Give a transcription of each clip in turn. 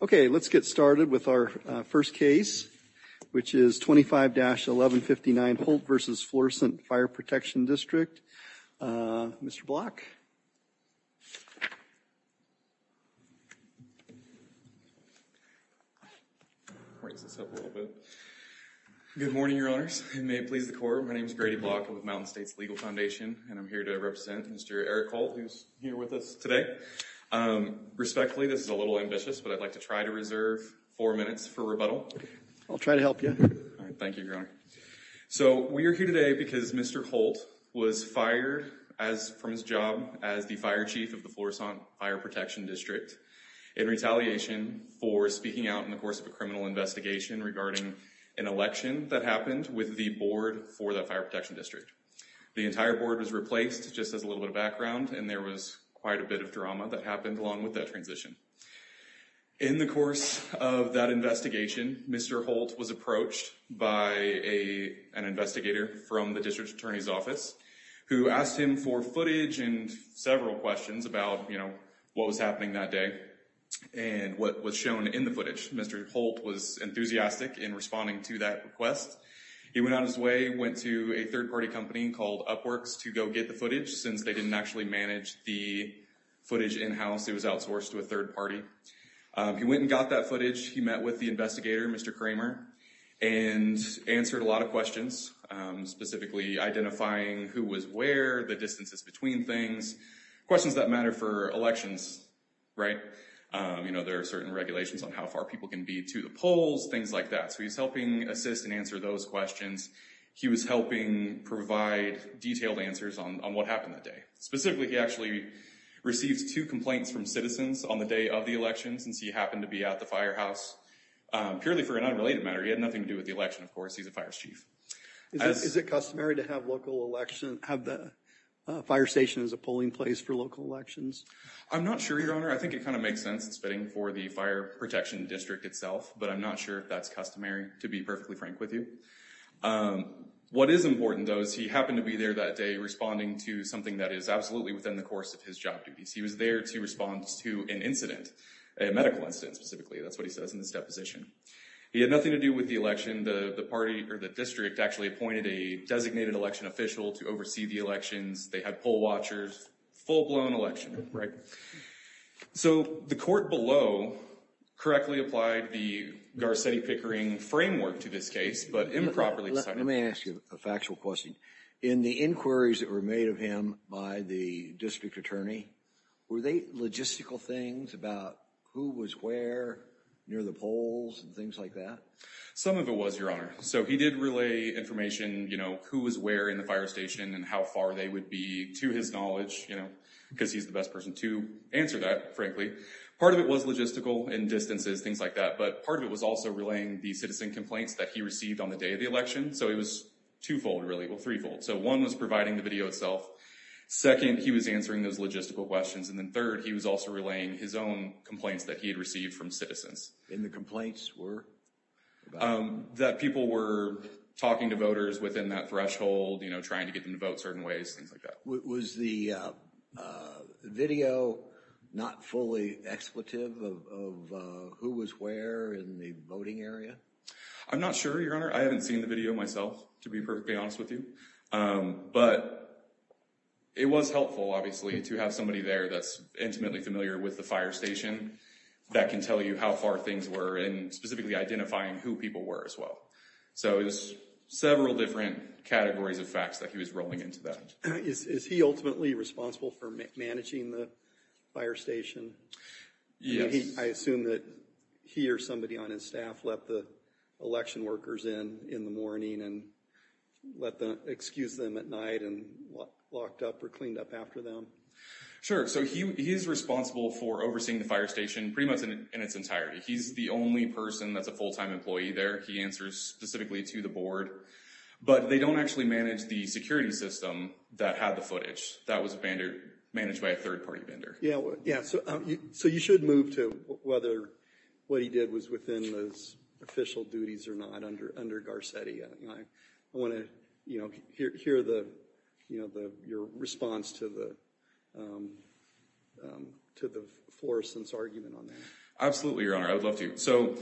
Okay, let's get started with our first case, which is 25-1159 Holt v. Florissant Fire Protection District. Mr. Block. Raise this up a little bit. Good morning, your honors, and may it please the court. My name's Grady Block, I'm with Mountain States Legal Foundation, and I'm here to represent Mr. Eric Holt, who's here with us today. Respectfully, this is a little ambitious, but I'd like to try to reserve four minutes for rebuttal. I'll try to help you. All right, thank you, your honor. So we are here today because Mr. Holt was fired from his job as the fire chief of the Florissant Fire Protection District in retaliation for speaking out in the course of a criminal investigation regarding an election that happened with the board for that fire protection district. The entire board was replaced just as a little bit of background, and there was quite a bit of drama that happened along with that transition. In the course of that investigation, Mr. Holt was approached by an investigator from the district attorney's office, who asked him for footage and several questions about what was happening that day, and what was shown in the footage. Mr. Holt was enthusiastic in responding to that request. He went out of his way, went to a third-party company called Upworks to go get the footage, since they didn't actually manage the footage in-house. It was outsourced to a third-party. He went and got that footage. He met with the investigator, Mr. Kramer, and answered a lot of questions, specifically identifying who was where, the distances between things, questions that matter for elections, right? You know, there are certain regulations on how far people can be to the polls, things like that. So he was helping assist and answer those questions. He was helping provide detailed answers on what happened that day. Specifically, he actually received two complaints from citizens on the day of the election, since he happened to be at the firehouse, purely for an unrelated matter. He had nothing to do with the election, of course. He's a fire chief. Is it customary to have the fire station as a polling place for local elections? I'm not sure, Your Honor. I think it kind of makes sense. It's fitting for the Fire Protection District itself, but I'm not sure if that's customary, to be perfectly frank with you. What is important, though, is he happened to be there that day, responding to something that is absolutely within the course of his job duties. He was there to respond to an incident, a medical incident, specifically. That's what he says in his deposition. He had nothing to do with the election. The party, or the district, actually appointed a designated election official to oversee the elections. They had poll watchers. Full-blown election, right? So the court below correctly applied the Garcetti-Pickering framework to this case, but improperly decided. Let me ask you a factual question. In the inquiries that were made of him by the district attorney, were they logistical things about who was where, near the polls, and things like that? Some of it was, Your Honor. So he did relay information, you know, who was where in the fire station, and how far they would be, to his knowledge, because he's the best person to answer that, frankly. Part of it was logistical, and distances, things like that, but part of it was also relaying the citizen complaints that he received on the day of the election. So it was twofold, really. Well, threefold. So one was providing the video itself. Second, he was answering those logistical questions, and then third, he was also relaying his own complaints that he had received from citizens. And the complaints were about? That people were talking to voters within that threshold, you know, trying to get them to vote certain ways, things like that. Was the video not fully expletive of who was where in the voting area? I'm not sure, Your Honor. I haven't seen the video myself, to be perfectly honest with you. But it was helpful, obviously, to have somebody there that's intimately familiar with the fire station that can tell you how far things were, and specifically identifying who people were, as well. So it was several different categories of facts that he was rolling into that. Is he ultimately responsible for managing the fire station? Yes. I assume that he or somebody on his staff let the election workers in in the morning, and let them excuse them at night, and locked up or cleaned up after them. Sure, so he is responsible for overseeing the fire station, pretty much in its entirety. He's the only person that's a full-time employee there. He answers specifically to the board. But they don't actually manage the security system that had the footage. That was managed by a third-party vendor. Yeah, so you should move to whether what he did was within those official duties or not, under Garcetti. I wanna hear your response to the Florissant's argument on that. Absolutely, Your Honor, I would love to. So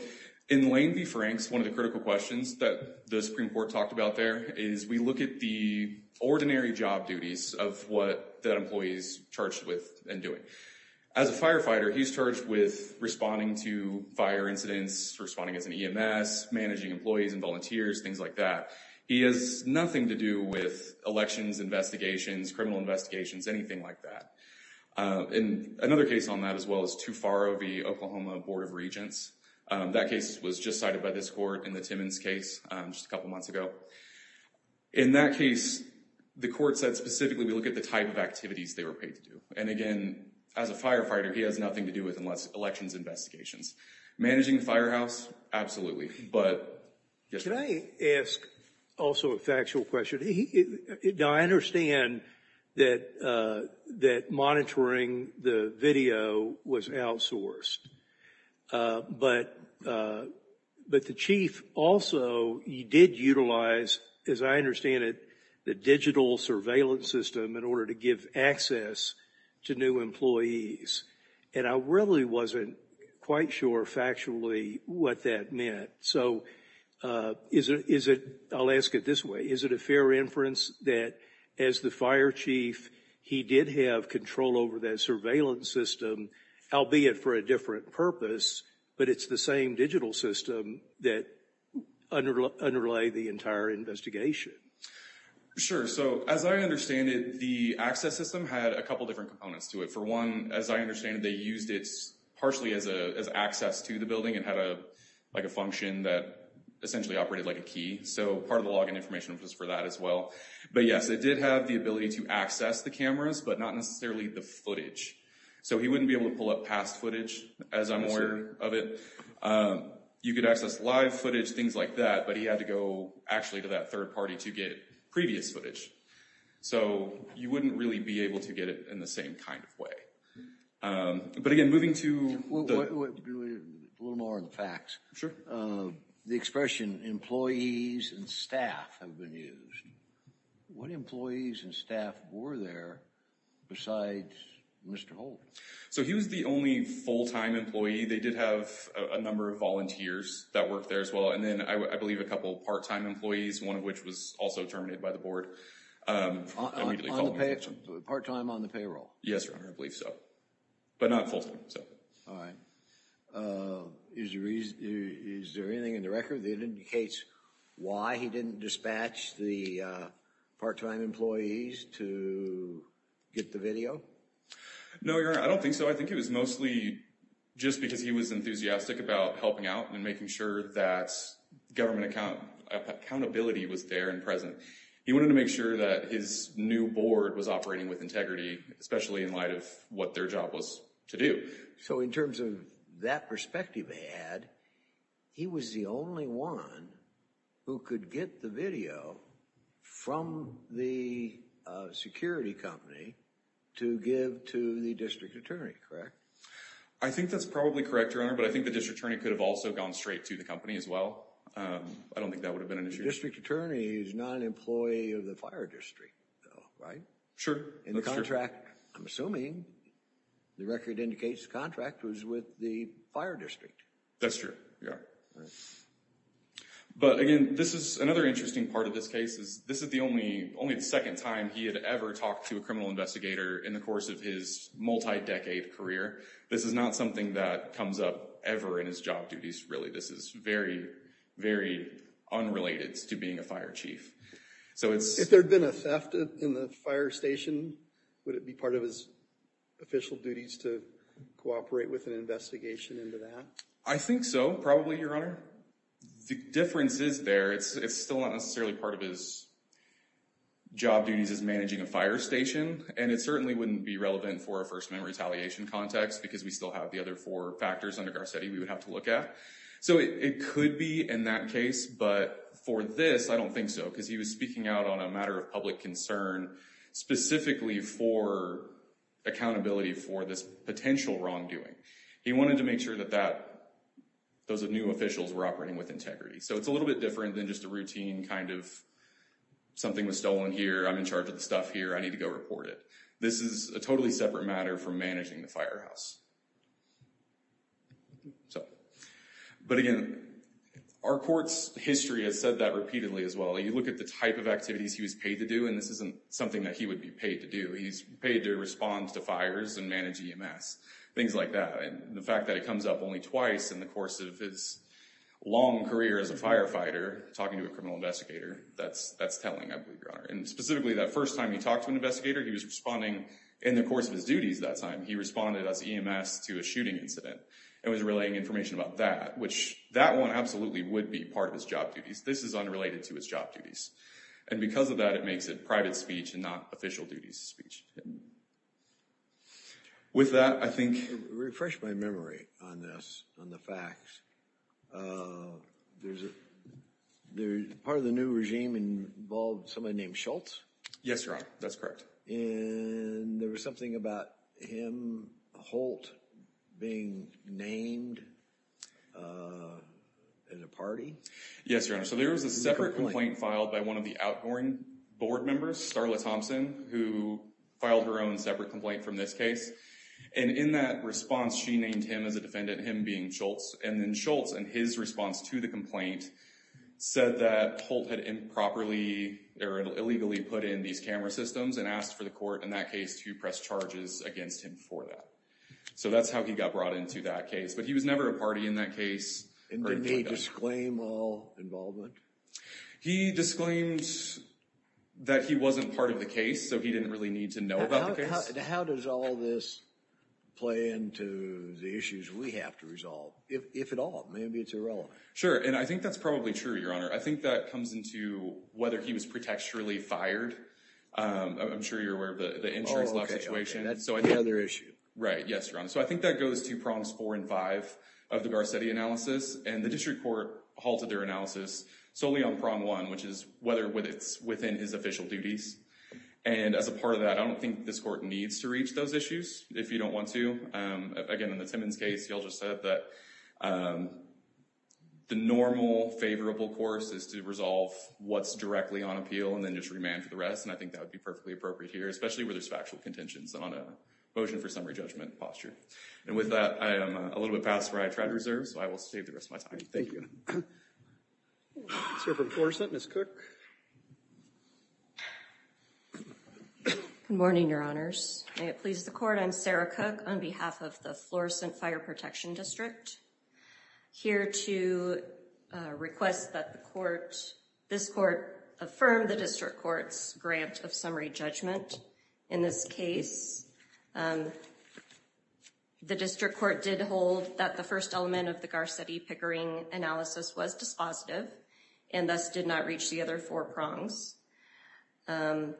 in Lane v. Franks, one of the critical questions that the Supreme Court talked about there is we look at the ordinary job duties of what that employee's charged with and doing. As a firefighter, he's charged with responding to fire incidents, responding as an EMS, managing employees and volunteers, things like that. He has nothing to do with elections, investigations, criminal investigations, anything like that. In another case on that, as well as Too Far O.V., Oklahoma Board of Regents, that case was just cited by this court in the Timmons case just a couple months ago. In that case, the court said specifically we look at the type of activities they were paid to do. And again, as a firefighter, he has nothing to do with elections investigations. Managing the firehouse, absolutely. But, yes, Your Honor. Can I ask also a factual question? Now, I understand that monitoring the video was outsourced. But the chief also did utilize, as I understand it, the digital surveillance system in order to give access to new employees. And I really wasn't quite sure, factually, what that meant. So, I'll ask it this way. Is it a fair inference that, as the fire chief, he did have control over that surveillance system, albeit for a different purpose, but it's the same digital system that underlay the entire investigation? Sure, so, as I understand it, the access system had a couple different components to it. For one, as I understand it, they used it partially as access to the building and had a function that essentially operated like a key. So, part of the login information was for that as well. But, yes, it did have the ability to access the cameras, but not necessarily the footage. So, he wouldn't be able to pull up past footage, as I'm aware of it. You could access live footage, things like that, but he had to go, actually, to that third party to get previous footage. So, you wouldn't really be able to get it in the same kind of way. But, again, moving to the... A little more on the facts. Sure. The expression, employees and staff, have been used. What employees and staff were there besides Mr. Holt? So, he was the only full-time employee. They did have a number of volunteers that worked there as well. And then, I believe, a couple part-time employees, one of which was also terminated by the board. Immediately called me. Part-time on the payroll? Yes, Your Honor, I believe so. But not full-time, so. All right. Is there anything in the record that indicates why he didn't dispatch the part-time employees to get the video? No, Your Honor, I don't think so. I think it was mostly just because he was enthusiastic about helping out and making sure that government accountability was there and present. He wanted to make sure that his new board was operating with integrity, especially in light of what their job was to do. So, in terms of that perspective they had, he was the only one who could get the video from the security company to give to the district attorney, correct? I think that's probably correct, Your Honor, but I think the district attorney could have also gone straight to the company as well. I don't think that would have been an issue. The district attorney is not an employee of the fire district, though, right? Sure, that's true. In the contract, I'm assuming, the record indicates the contract was with the fire district. That's true, Your Honor. But again, this is another interesting part of this case, is this is only the second time he had ever talked to a criminal investigator in the course of his multi-decade career. This is not something that comes up ever in his job duties, really. This is very, very unrelated to being a fire chief. If there'd been a theft in the fire station, would it be part of his official duties to cooperate with an investigation into that? I think so, probably, Your Honor. The difference is there, it's still not necessarily part of his job duties as managing a fire station, and it certainly wouldn't be relevant for a first-man retaliation context because we still have the other four factors under Garcetti we would have to look at. It could be in that case, but for this, I don't think so, because he was speaking out on a matter of public concern specifically for accountability for this potential wrongdoing. He wanted to make sure that those new officials were operating with integrity. So it's a little bit different than just a routine, kind of, something was stolen here, I'm in charge of the stuff here, I need to go report it. This is a totally separate matter from managing the firehouse. But again, our court's history has said that repeatedly as well. You look at the type of activities he was paid to do, and this isn't something that he would be paid to do. He's paid to respond to fires and manage EMS, things like that. And the fact that it comes up only twice in the course of his long career as a firefighter talking to a criminal investigator, that's telling, I believe, Your Honor. And specifically, that first time he talked to an investigator, he was responding in the course of his duties that time. He responded as EMS to a shooting incident and was relaying information about that, which, that one absolutely would be part of his job duties. This is unrelated to his job duties. And because of that, it makes it private speech and not official duties speech. With that, I think... Refresh my memory on this, on the facts. Part of the new regime involved somebody named Schultz? Yes, Your Honor, that's correct. And there was something about him, Holt, being named in a party? Yes, Your Honor. So there was a separate complaint filed by one of the outgoing board members, Starla Thompson, who filed her own separate complaint from this case. And in that response, she named him as a defendant, him being Schultz. And then Schultz, in his response to the complaint, said that Holt had improperly or illegally put in these camera systems and asked for the court, in that case, to press charges against him for that. So that's how he got brought into that case. But he was never a party in that case. And didn't he disclaim all involvement? He disclaimed that he wasn't part of the case, so he didn't really need to know about the case. How does all this play into the issues we have to resolve? If at all, maybe it's irrelevant. Sure, and I think that's probably true, Your Honor. I think that comes into whether he was protecturally fired. I'm sure you're aware of the insurance law situation. That's another issue. Right, yes, Your Honor. So I think that goes to prongs four and five of the Garcetti analysis. And the district court halted their analysis solely on prong one, which is whether it's within his official duties. And as a part of that, I don't think this court needs to reach those issues, if you don't want to. Again, in the Timmons case, you all just said that the normal favorable course is to resolve what's directly on appeal and then just remand for the rest. And I think that would be perfectly appropriate here, especially where there's factual contentions on a motion for summary judgment posture. And with that, I am a little bit past where I tried to reserve so I will save the rest of my time. Thank you. Sir, from Florissant, Ms. Cook. Good morning, Your Honors. May it please the court, I'm Sarah Cook on behalf of the Florissant Fire Protection District. Here to request that the court, this court affirm the district court's grant of summary judgment. In this case, the district court did hold that the first element of the Garcetti Pickering analysis was dispositive and thus did not reach the other four prongs. In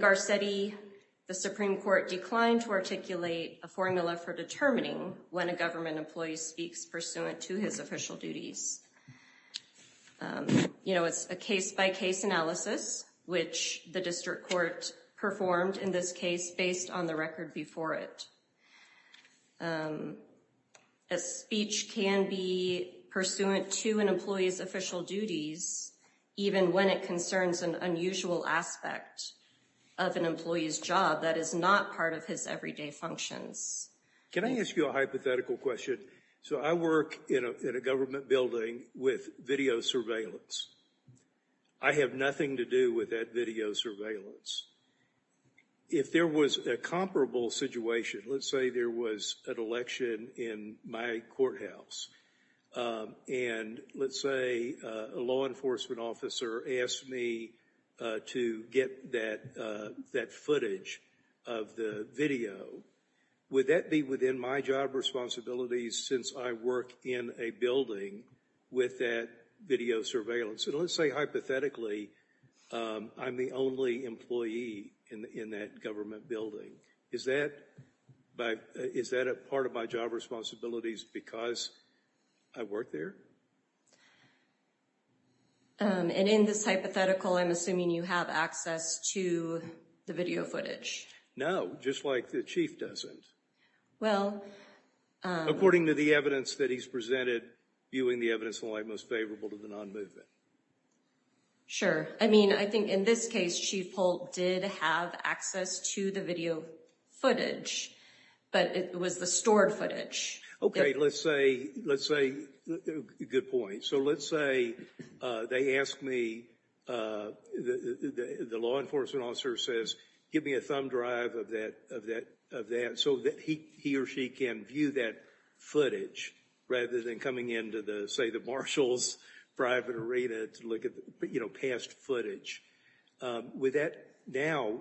Garcetti, the Supreme Court declined to articulate a formula for determining when a government employee speaks pursuant to his official duties. It's a case by case analysis, which the district court performed in this case based on the record before it. A speech can be pursuant to an employee's official duties, even when it concerns an unusual aspect of an employee's job that is not part of his everyday functions. Can I ask you a hypothetical question? So I work in a government building with video surveillance. I have nothing to do with that video surveillance. If there was a comparable situation, let's say there was an election in my courthouse, and let's say a law enforcement officer asked me to get that footage of the video, would that be within my job responsibilities since I work in a building with that video surveillance? And let's say hypothetically, I'm the only employee in that government building. Is that a part of my job responsibilities because I work there? And in this hypothetical, I'm assuming you have access to the video footage. No, just like the chief doesn't. Well. According to the evidence that he's presented, viewing the evidence in light most favorable to the non-movement. Sure, I mean, I think in this case, Chief Holt did have access to the video footage, but it was the stored footage. Okay, let's say, good point. So let's say they ask me, the law enforcement officer says, give me a thumb drive of that, so that he or she can view that footage rather than coming into the, say, the marshal's private arena to look at past footage. Now,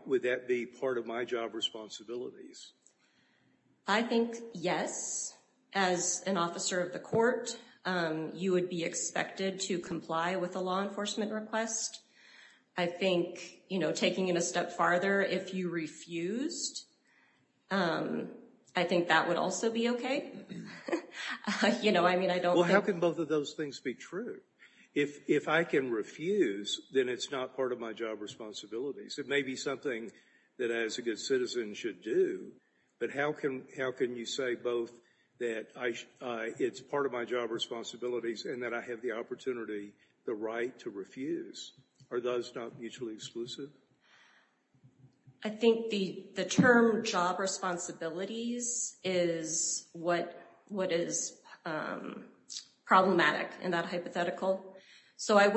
would that be part of my job responsibilities? I think, yes. As an officer of the court, you would be expected to comply with a law enforcement request. I think, you know, taking it a step farther, if you refused, I think that would also be okay. You know, I mean, I don't think. Well, how can both of those things be true? If I can refuse, then it's not part of my job responsibilities. It may be something that I, as a good citizen, should do, but how can you say both that it's part of my job responsibilities and that I have the opportunity, the right to refuse? Are those not mutually exclusive? I think the term job responsibilities is what is problematic in that hypothetical. So I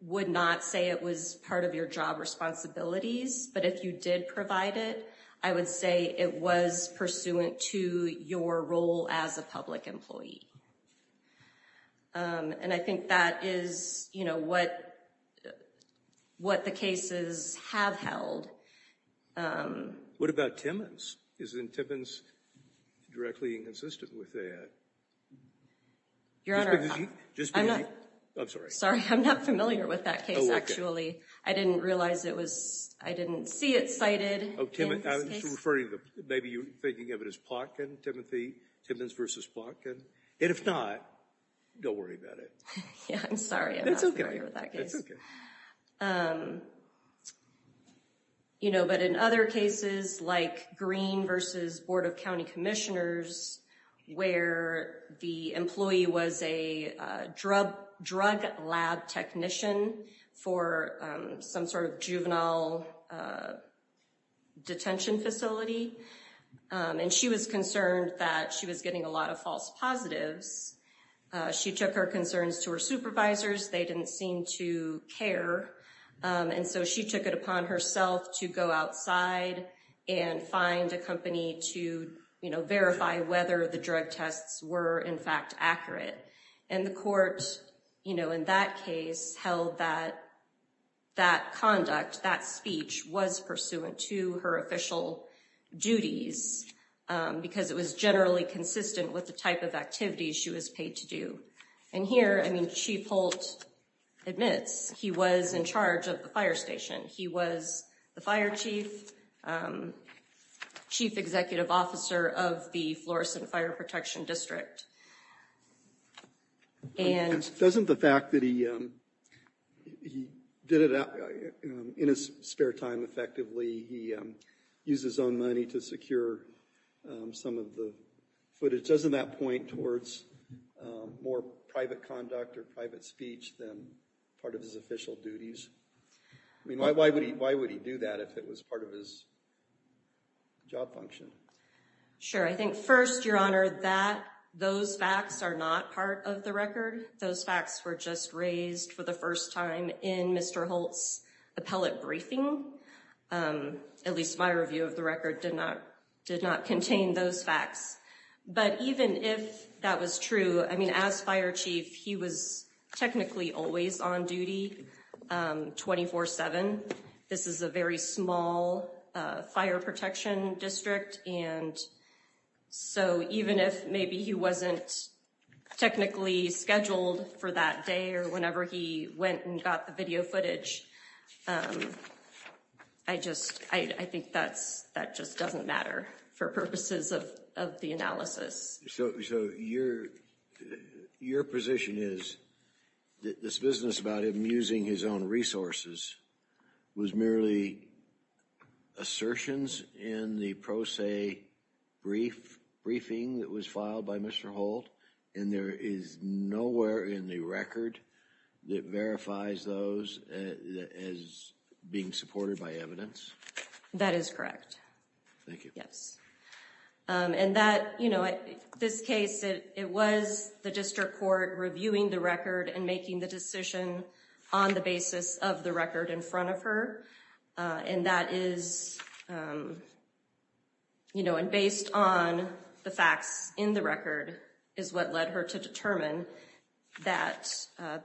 would not say it was part of your job responsibilities, but if you did provide it, I would say it was pursuant to your role as a public employee. And I think that is, you know, what the cases have held. What about Timmons? Isn't Timmons directly inconsistent with that? Your Honor, I'm not familiar with that case, actually. I didn't realize it was, I didn't see it cited. Oh, Timmons. I was referring to, maybe you're thinking of it as Plotkin, Timothy, Timmons versus Plotkin. And if not, don't worry about it. Yeah, I'm sorry. I'm not familiar with that case. That's okay, that's okay. You know, but in other cases, like Green versus Board of County Commissioners, where the employee was a drug lab technician for some sort of juvenile detention facility, and she was concerned that she was getting a lot of false positives, she took her concerns to her supervisors. They didn't seem to care. And so she took it upon herself to go outside and find a company to, you know, verify whether the drug tests were in fact accurate. And the court, you know, in that case, held that that conduct, that speech, was pursuant to her official duties because it was generally consistent with the type of activities she was paid to do. And here, I mean, Chief Holt admits he was in charge of the fire station. He was the fire chief, chief executive officer of the Florissant Fire Protection District. And- Doesn't the fact that he did it in his spare time effectively, he used his own money to secure some of the footage, doesn't that point towards more private conduct or private speech than part of his official duties? I mean, why would he do that if it was part of his job function? Sure, I think first, Your Honor, that those facts are not part of the record. Those facts were just raised for the first time in Mr. Holt's appellate briefing. At least my review of the record did not contain those facts. But even if that was true, I mean, as fire chief, he was technically always on duty 24-7. This is a very small fire protection district. And so even if maybe he wasn't technically scheduled for that day or whenever he went and got the video footage, I just, I think that just doesn't matter for purposes of the analysis. So your position is that this business about him using his own resources was merely assertions in the pro se briefing that was filed by Mr. Holt, and there is nowhere in the record that verifies those as being supported by evidence? That is correct. Thank you. Yes. And that, you know, this case, it was the district court reviewing the record and making the decision on the basis of the record in front of her. And that is, you know, and based on the facts in the record is what led her to determine that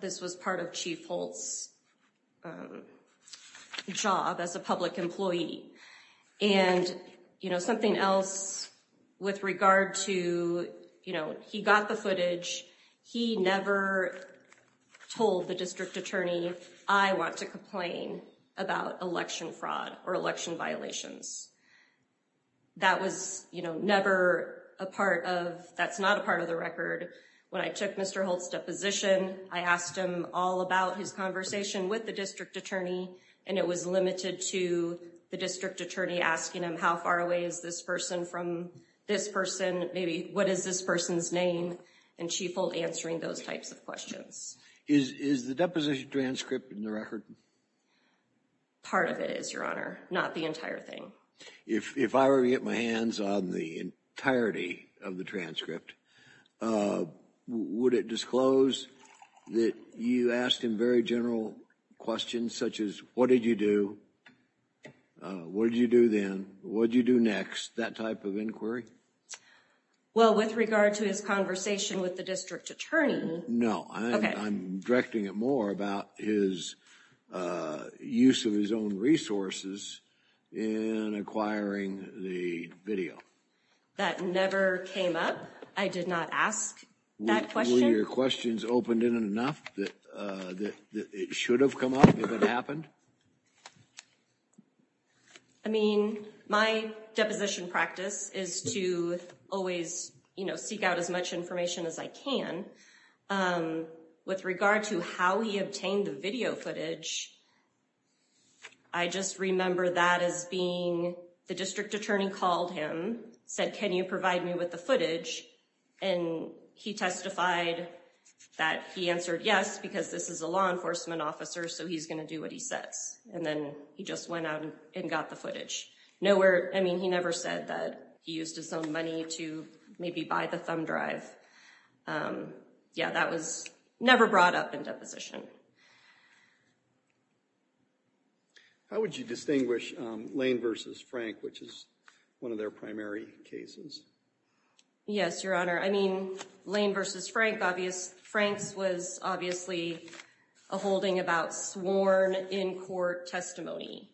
this was part of Chief Holt's job as a public employee. And, you know, something else with regard to, you know, he got the footage, he never told the district attorney, I want to complain about election fraud or election violations. That was, you know, never a part of, that's not a part of the record. When I took Mr. Holt's deposition, I asked him all about his conversation with the district attorney, and it was limited to the district attorney asking him how far away is this person from this person? Maybe what is this person's name? And Chief Holt answering those types of questions. Is the deposition transcript in the record? Part of it is, Your Honor, not the entire thing. If I were to get my hands on the entirety of the transcript, would it disclose that you asked him very general questions such as what did you do? What did you do then? What'd you do next? That type of inquiry? Well, with regard to his conversation with the district attorney. No, I'm directing it more about his use of his own resources in acquiring the video. That never came up. I did not ask that question. Were your questions opened in enough that it should have come up if it happened? I mean, my deposition practice is to always, you know, seek out as much information as I can. With regard to how he obtained the video footage, I just remember that as being, the district attorney called him, said, can you provide me with the footage? And he testified that he answered yes because this is a law enforcement officer, so he's gonna do what he says. And then he just went out and got the footage. Nowhere, I mean, he never said that he used his own money to maybe buy the thumb drive. Yeah, that was never brought up in deposition. How would you distinguish Lane versus Frank, which is one of their primary cases? Yes, Your Honor, I mean, Lane versus Frank, obvious, Frank's was obviously a holding about sworn in-court testimony.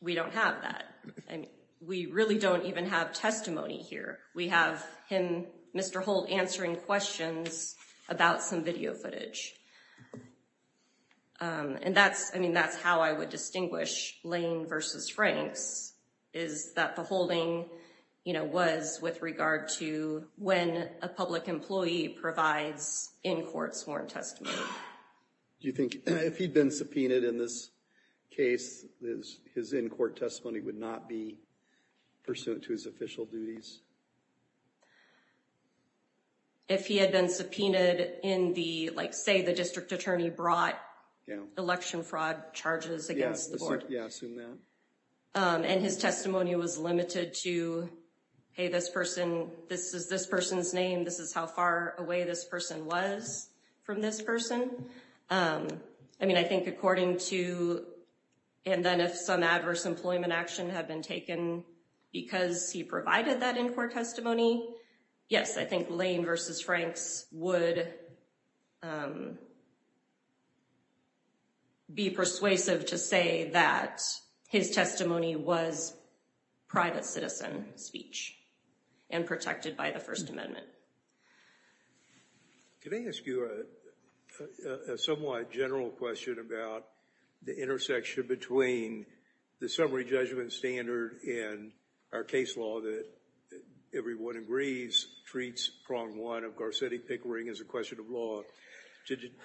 We don't have that. We really don't even have testimony here. We have him, Mr. Holt, answering questions about some video footage. And that's, I mean, that's how I would distinguish Lane versus Frank's, is that the holding was with regard to when a public employee provides in-courts sworn testimony. Do you think, if he'd been subpoenaed in this case, his in-court testimony would not be pursuant to his official duties? If he had been subpoenaed in the, like say the district attorney brought election fraud charges against the board. Yeah, assume that. And his testimony was limited to, hey, this person, this is this person's name, this is how far away this person was from this person. I mean, I think according to, and then if some adverse employment action had been taken because he provided that in-court testimony, yes, I think Lane versus Frank's would be persuasive to say that his testimony was private citizen speech and protected by the First Amendment. Can I ask you a somewhat general question about the intersection between the summary judgment standard and our case law that everyone agrees treats prong one of Garcetti-Pickering as a question of law.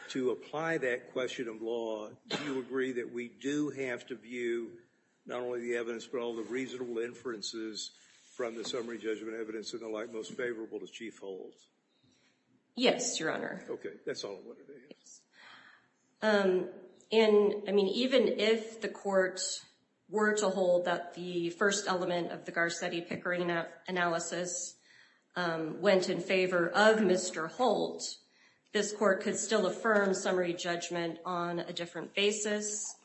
To apply that question of law, do you agree that we do have to view not only the evidence, but all the reasonable inferences from the summary judgment evidence in the light most favorable to Chief Holds? Yes, Your Honor. Okay, that's all I wanted to ask. And I mean, even if the courts were to hold that the first element of the Garcetti-Pickering analysis went in favor of Mr. Holt, this court could still affirm summary judgment on a different basis,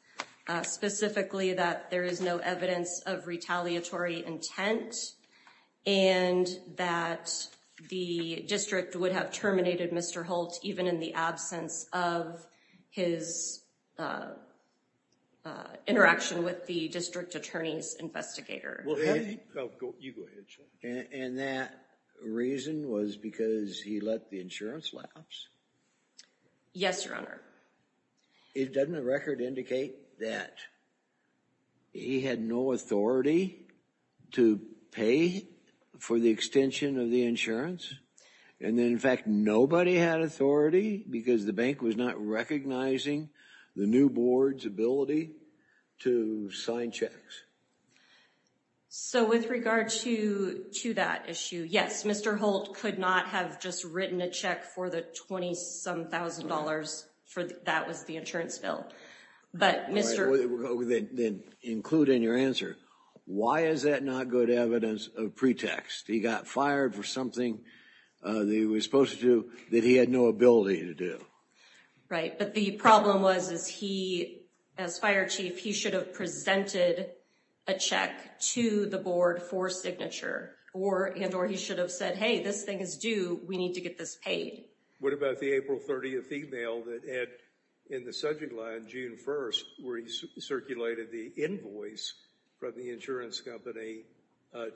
specifically that there is no evidence of retaliatory intent and that the district would have terminated Mr. Holt even in the absence of his interaction with the district attorney's investigator. Well, you go ahead, Chuck. And that reason was because he let the insurance lapse? Yes, Your Honor. Doesn't the record indicate that he had no authority to pay for the extension of the insurance? And then, in fact, nobody had authority because the bank was not recognizing the new board's ability to sign checks? So with regard to that issue, yes, Mr. Holt could not have just written a check for the 20-some thousand dollars for that was the insurance bill. But Mr. All right, then include in your answer, why is that not good evidence of pretext? He got fired for something that he was supposed to do that he had no ability to do. Right, but the problem was is he, as fire chief, he should have presented a check to the board for signature and or he should have said, hey, this thing is due, we need to get this paid. What about the April 30th email that Ed, in the subject line, June 1st, where he circulated the invoice from the insurance company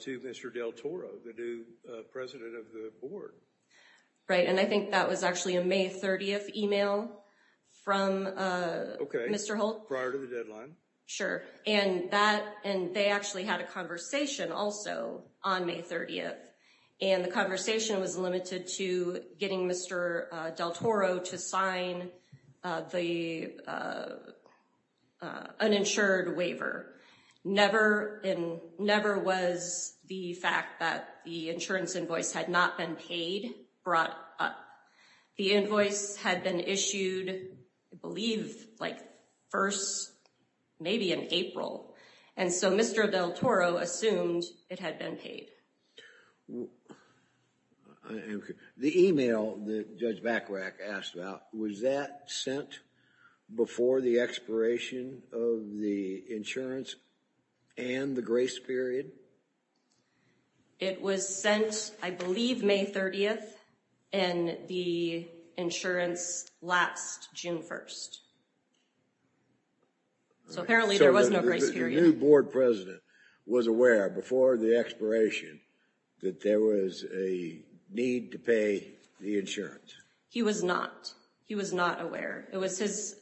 to Mr. Del Toro, the new president of the board? Right, and I think that was actually a May 30th email from Mr. Holt. Prior to the deadline. Sure, and they actually had a conversation also on May 30th and the conversation was limited to getting Mr. Del Toro to sign the uninsured waiver. Never was the fact that the insurance invoice had not been paid brought up. The invoice had been issued, I believe, like first, maybe in April. And so Mr. Del Toro assumed it had been paid. The email that Judge Bachrach asked about, was that sent before the expiration of the insurance and the grace period? It was sent, I believe, May 30th and the insurance lapsed June 1st. So apparently there was no grace period. So the new board president was aware before the expiration that there was a need to pay the insurance? He was not. He was not aware. It was his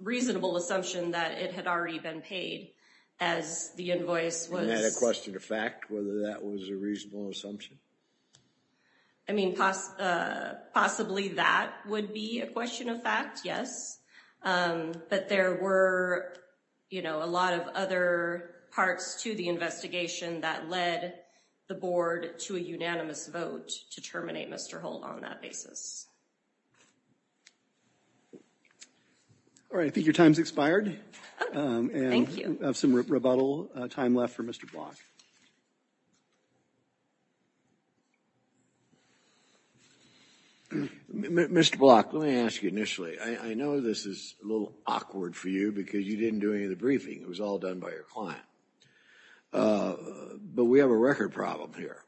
reasonable assumption that it had already been paid as the invoice was. And that equested a fact, whether that was a reasonable assumption? I mean, possibly that would be a question of fact, yes. But there were a lot of other parts to the investigation that led the board to a unanimous vote to terminate Mr. Holt on that basis. All right, I think your time's expired. Thank you. We have some rebuttal time left for Mr. Block. Mr. Block, let me ask you initially, I know this is a little awkward for you because you didn't do any of the briefing. It was all done by your client. But we have a record problem here.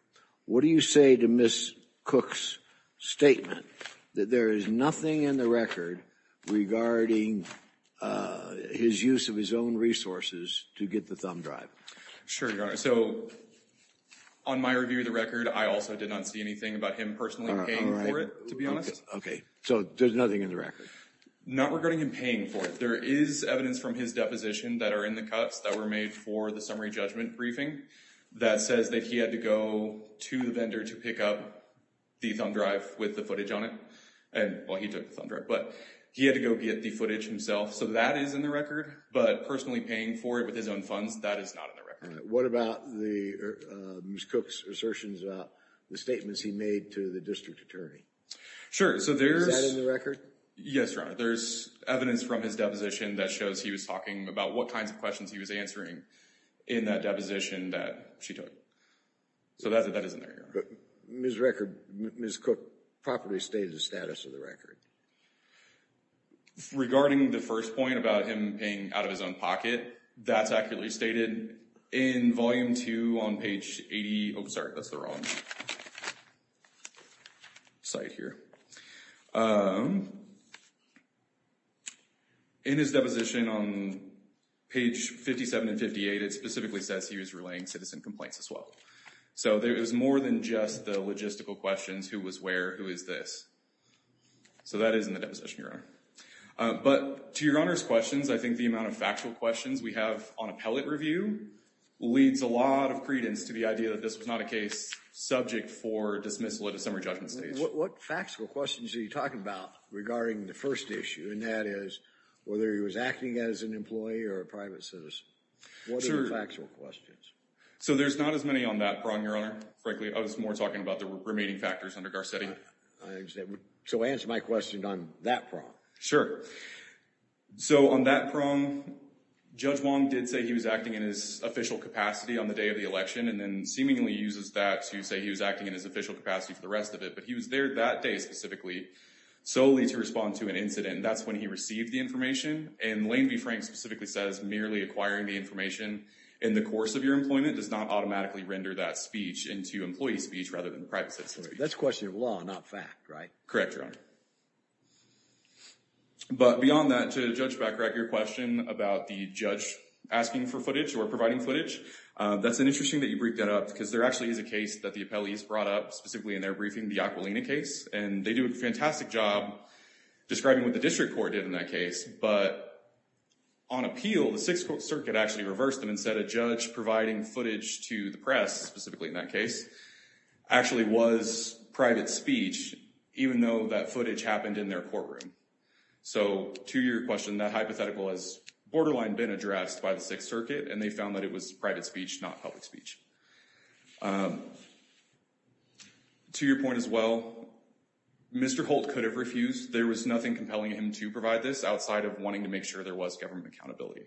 What do you say to Ms. Cook's statement that there is nothing in the record regarding his use of his own resources to get the thumb drive? Sure, Your Honor. So on my review of the record, I also did not see anything about him personally paying for it, to be honest. Okay, so there's nothing in the record? Not regarding him paying for it. There is evidence from his deposition that are in the cuts that were made for the summary judgment briefing that says that he had to go to the vendor to pick up the thumb drive with the footage on it. And, well, he took the thumb drive. But he had to go get the footage himself. So that is in the record. But personally paying for it with his own funds, that is not in the record. What about Ms. Cook's assertions about the statements he made to the district attorney? Sure, so there's... Is that in the record? Yes, Your Honor. There's evidence from his deposition that shows he was talking about what kinds of questions he was answering in that deposition that she took. So that is in there, Your Honor. Ms. Cook properly stated the status of the record. Regarding the first point about him paying out of his own pocket, that's accurately stated. In volume two on page 80... Oh, sorry, that's the wrong side here. In his deposition on page 57 and 58, it specifically says he was relaying citizen complaints as well. So it was more than just the logistical questions. Who was where? Who is this? So that is in the deposition, Your Honor. But to Your Honor's questions, I think the amount of factual questions we have on appellate review leads a lot of credence to the idea that this was not a case subject for dismissal at a summary judgment stage. What factual questions are you talking about regarding the first issue, and that is whether he was acting as an employee or a private citizen? What are the factual questions? So there's not as many on that prong, Your Honor. Frankly, I was more talking about the remaining factors under Garcetti. So answer my question on that prong. Sure. So on that prong, Judge Wong did say he was acting in his official capacity on the day of the election, and then seemingly uses that to say he was acting in his official capacity for the rest of it. But he was there that day specifically solely to respond to an incident, and that's when he received the information. And Lane v. Frank specifically says merely acquiring the information in the course of your employment does not automatically render that speech into employee speech rather than private citizen speech. That's a question of law, not fact, right? Correct, Your Honor. But beyond that, to Judge Backrack, your question about the judge asking for footage or providing footage, that's interesting that you break that up because there actually is a case that the appellees brought up specifically in their briefing, the Aquilina case, and they do a fantastic job describing what the district court did in that case. But on appeal, the Sixth Circuit actually reversed them and said a judge providing footage to the press, specifically in that case, actually was private speech, even though that footage happened in their courtroom. So to your question, that hypothetical has borderline been addressed by the Sixth Circuit, and they found that it was private speech, not public speech. To your point as well, Mr. Holt could have refused. There was nothing compelling him to provide this outside of wanting to make sure there was government accountability.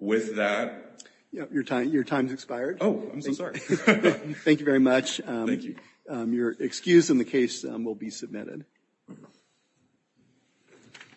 With that. Your time's expired. Oh, I'm so sorry. Thank you very much. Thank you. Your excuse in the case will be submitted.